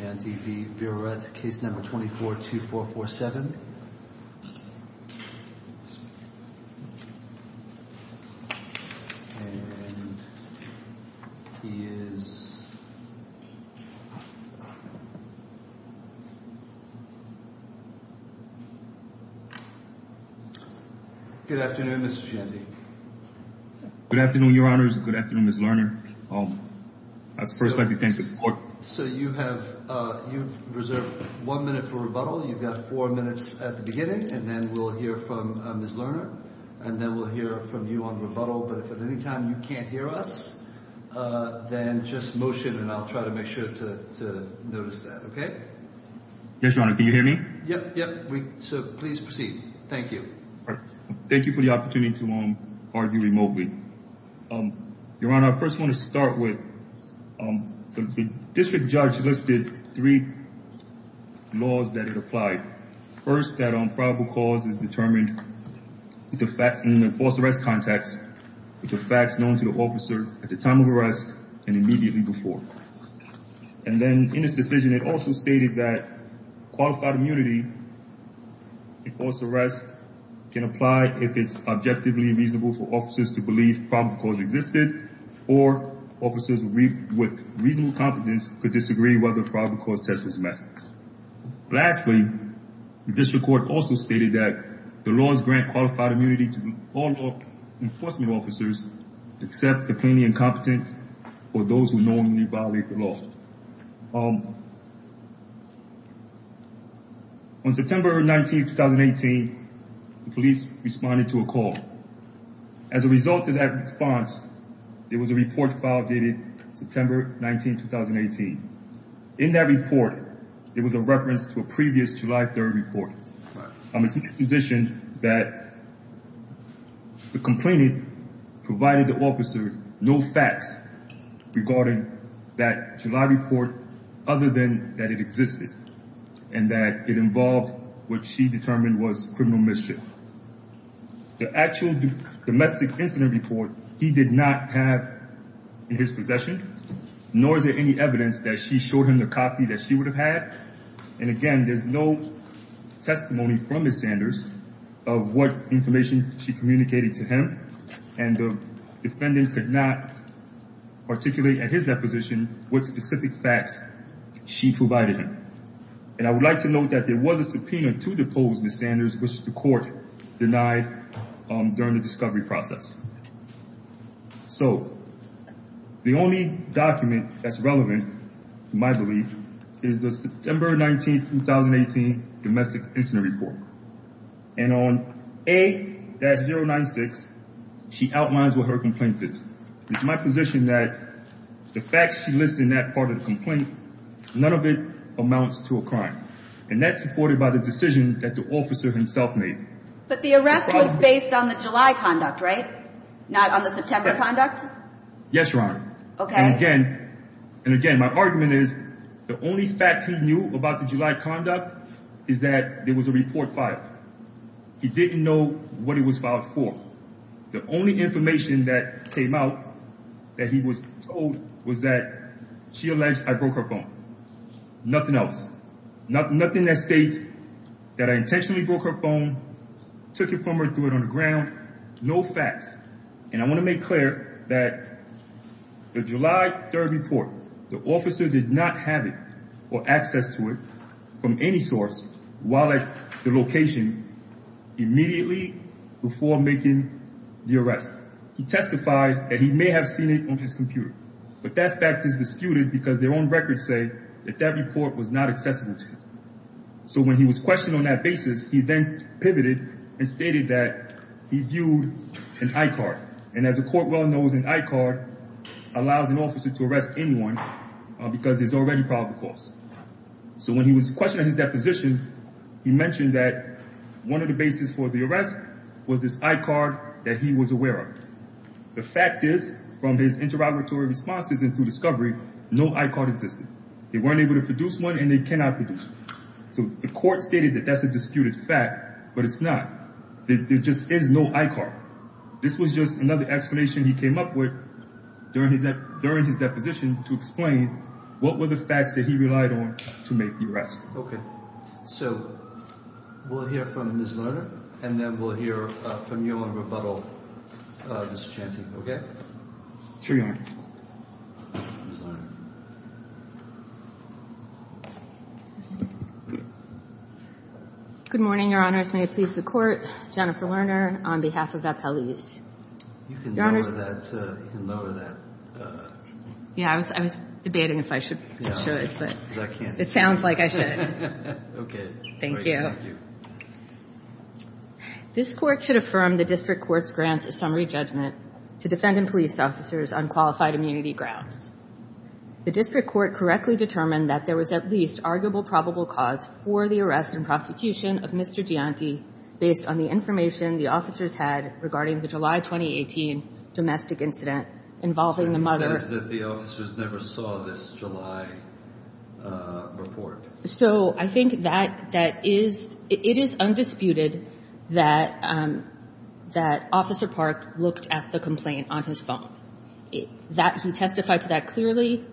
Jeanty v. Birouette, Case No. 24-2447, and he is... Good afternoon, Mr. Jeanty. Good afternoon, Your Honors. Good afternoon, Ms. Lerner. I'd first like to thank the court. So you have, you've reserved one minute for rebuttal. You've got four minutes at the beginning, and then we'll hear from Ms. Lerner, and then we'll hear from you on rebuttal. But if at any time you can't hear us, then just motion, and I'll try to make sure to notice that. Okay? Yes, Your Honor. Can you hear me? Yep. Yep. So please proceed. Thank you. Thank you for the opportunity to argue remotely. Your Honor, I first want to start with, the district judge listed three laws that it applied. First, that probable cause is determined in the false arrest context, with the facts known to the officer at the time of arrest and immediately before. And then in his decision, it also stated that qualified immunity in false arrest can apply if it's objectively reasonable for officers to believe probable cause existed, or officers with reasonable competence could disagree whether probable cause test was met. Lastly, the district court also stated that the laws grant qualified immunity to all law enforcement officers, except the plainly incompetent or those who normally violate the law. On September 19th, 2018, the police responded to a call. As a result of that response, there was a report filed dated September 19th, 2018. In that report, it was a reference to a previous July 3rd report. It's my position that the complainant provided the officer no facts regarding that July report, other than that it existed and that it involved what she determined was criminal mischief. The actual domestic incident report, he did not have in his possession, nor is there any evidence that she showed him the copy that she would have had. And again, there's no testimony from Ms. Sanders of what information she communicated to him. And the defendant could not articulate at his deposition what specific facts she provided him. And I would like to note that there was a subpoena to depose Ms. Sanders, which the court denied during the discovery process. So, the only document that's relevant, in my belief, is the September 19th, 2018, domestic incident report. And on A-096, she outlines what her complaint is. It's my position that the facts she lists in that part of the complaint, none of it amounts to a crime. And that's supported by the decision that the officer himself made. But the arrest was based on the July conduct, right? Not on the September conduct? Yes, Your Honor. Okay. And again, and again, my argument is the only fact he knew about the July conduct is that there was a report filed. He didn't know what it was filed for. The only information that came out that he was told was that she alleged I broke her phone. Nothing else. Nothing that states that I intentionally broke her phone, took it from her, threw it on the ground. No facts. And I want to make clear that the July 3rd report, the officer did not have it or access to it from any source, while at the location, immediately before making the arrest. He testified that he may have seen it on his computer. But that fact is disputed because their own records say that that report was not accessible to him. So when he was questioned on that basis, he then pivoted and stated that he viewed an I-card. And as the court well knows, an I-card allows an officer to arrest anyone because there's already probable cause. So when he was questioned on his deposition, he mentioned that one of the basis for the arrest was this I-card that he was aware of. The fact is, from his interrogatory responses and through discovery, no I-card existed. They weren't able to produce one and they cannot produce one. So the court stated that that's a disputed fact, but it's not. There just is no I-card. This was just another explanation he came up with during his deposition to explain what were the facts that he relied on to make the arrest. Okay. So we'll hear from Ms. Lerner and then we'll hear from you on rebuttal, Mr. Chanty, okay? Sure, Your Honor. Good morning, Your Honors. May it please the Court. Jennifer Lerner on behalf of Appellees. You can lower that, you can lower that. Yeah, I was debating if I should, I should, but it sounds like I should. Okay. Thank you. This Court should affirm the District Court's grants of summary judgment to defendant police officers on qualified immunity grounds. The District Court correctly determined that there was at least arguable probable cause for the arrest and prosecution of Mr. Gianti based on the information the officers had regarding the July 2018 domestic incident involving the mother. It says that the officers never saw this July report. So I think that, that is, it is undisputed that, that Officer Park looked at the complaint on his phone. That, he testified to that clearly.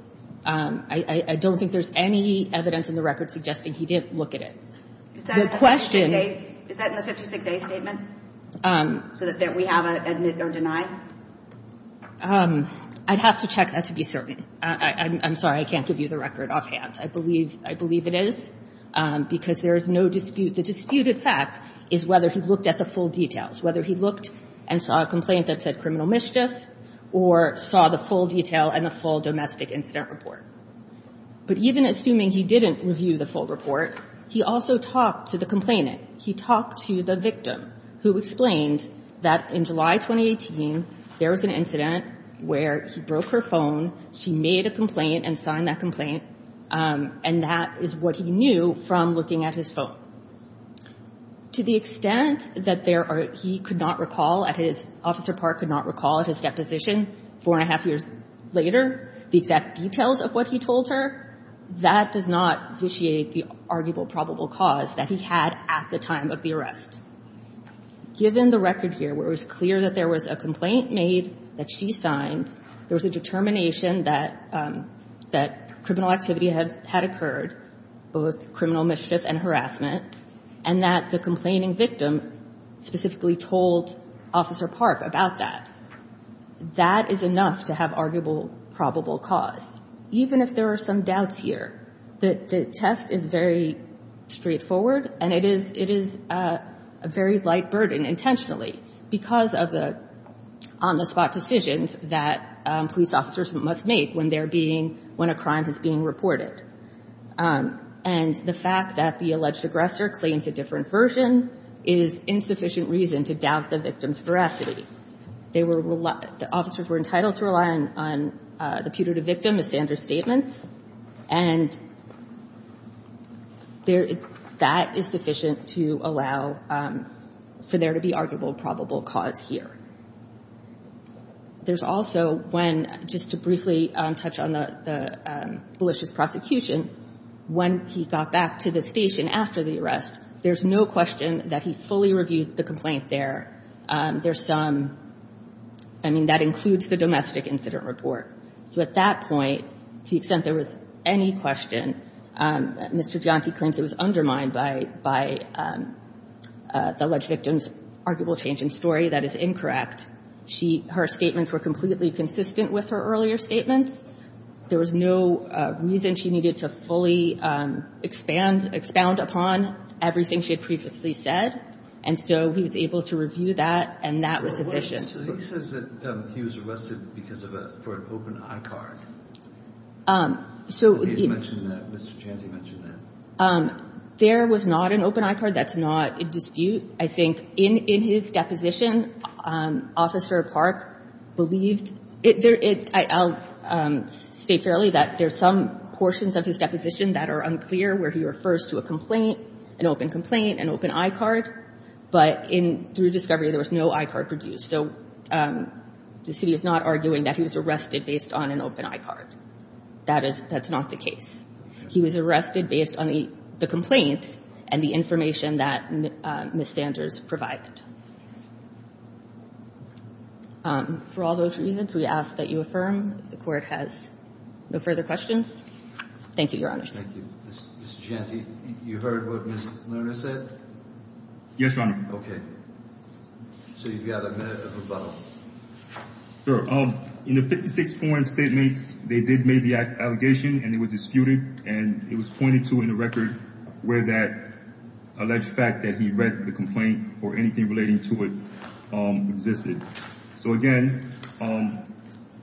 I don't think there's any evidence in the record suggesting he didn't look at it. Is that in the 56A statement? So that we have an admit or deny? I'd have to check that to be certain. I'm sorry, I can't give you the record offhand. I believe, I believe it is because there is no dispute. The disputed fact is whether he looked at the full details, whether he looked and saw a complaint that said criminal mischief, or saw the full detail and the full domestic incident report. But even assuming he didn't review the full report, he also talked to the complainant. He talked to the victim who explained that in July 2018, there was an incident where he broke her phone. She made a complaint and signed that complaint, and that is what he knew from looking at his phone. To the extent that there are, he could not recall at his, Officer Park could not recall at his deposition, four and a half years later, the exact details of what he told her, that does not vitiate the arguable probable cause that he had at the time of the arrest. Given the record here, where it was clear that there was a complaint made that she signed, there was a determination that criminal activity had occurred, both criminal mischief and harassment, and that the complaining victim specifically told Officer Park about that. That is enough to have arguable probable cause. Even if there are some doubts here, the test is very straightforward, and it is a very light burden intentionally because of the on-the-spot decisions that police officers must make when a crime is being reported. And the fact that the alleged aggressor claims a different version is insufficient reason to doubt the victim's veracity. The officers were entitled to rely on the putative victim as standard statements, and that is sufficient to allow for there to be arguable probable cause here. There's also when, just to briefly touch on the malicious prosecution, when he got back to the station after the arrest, there's no question that he fully reviewed the complaint there. There's some, I mean, that includes the domestic incident report. So at that point, to the extent there was any question, Mr. Giante claims it was undermined by the alleged victim's arguable change in story. That is incorrect. She, her statements were completely consistent with her earlier statements. There was no reason she needed to fully expand, expound upon everything she had previously said, and so he was able to review that, and that was sufficient. So he says that he was arrested because of a, for an open I-card. So he mentioned that, Mr. Giante mentioned that. There was not an open I-card. That's not in dispute. I think in his deposition, Officer Park believed, I'll state fairly that there's some portions of his deposition that are unclear where he refers to a complaint, an open complaint, an open I-card, but in, through discovery, there was no I-card produced. So the city is not arguing that he was arrested based on an open I-card. That is, that's not the case. He was arrested based on the complaint and the information that Ms. Sanders provided. For all those reasons, we ask that you affirm if the Court has no further questions. Thank you, Your Honors. Thank you. Mr. Giante, you heard what Ms. Lerner said? Yes, Your Honor. Okay. So you've got a minute of rebuttal. Sure. In the 56 foreign statements, they did make the allegation, and it was disputed, and it was pointed to in the record where that alleged fact that he read the complaint or anything relating to it existed. So, again,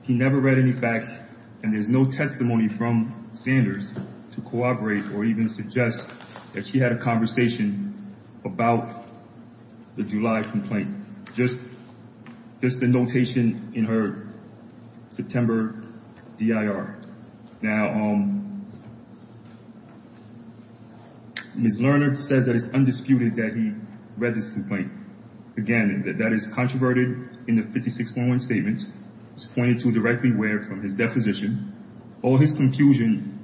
he never read any facts, and there's no testimony from Sanders to cooperate or even suggest that she had a conversation about the July complaint. Just the notation in her September DIR. Now, Ms. Lerner says that it's undisputed that he read this complaint. Again, that is controverted in the 56 foreign statements. It's pointed to directly where from his deposition. All his confusion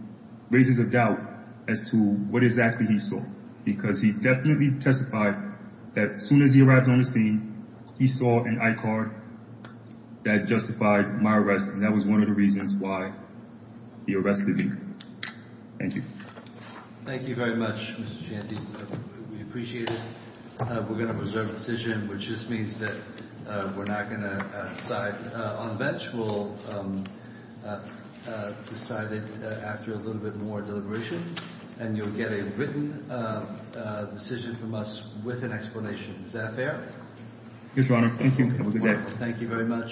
raises a doubt as to what exactly he saw because he definitely testified that as soon as he arrived on the scene, he saw an I-card that justified my arrest, and that was one of the reasons why he arrested me. Thank you. Thank you very much, Mr. Giante. We appreciate it. We're going to reserve a decision, which just means that we're not going to decide. On the bench, we'll decide it after a little bit more deliberation, and you'll get a decision from us with an explanation. Is that fair? Yes, Your Honor. Thank you. Have a good day. Thank you very much.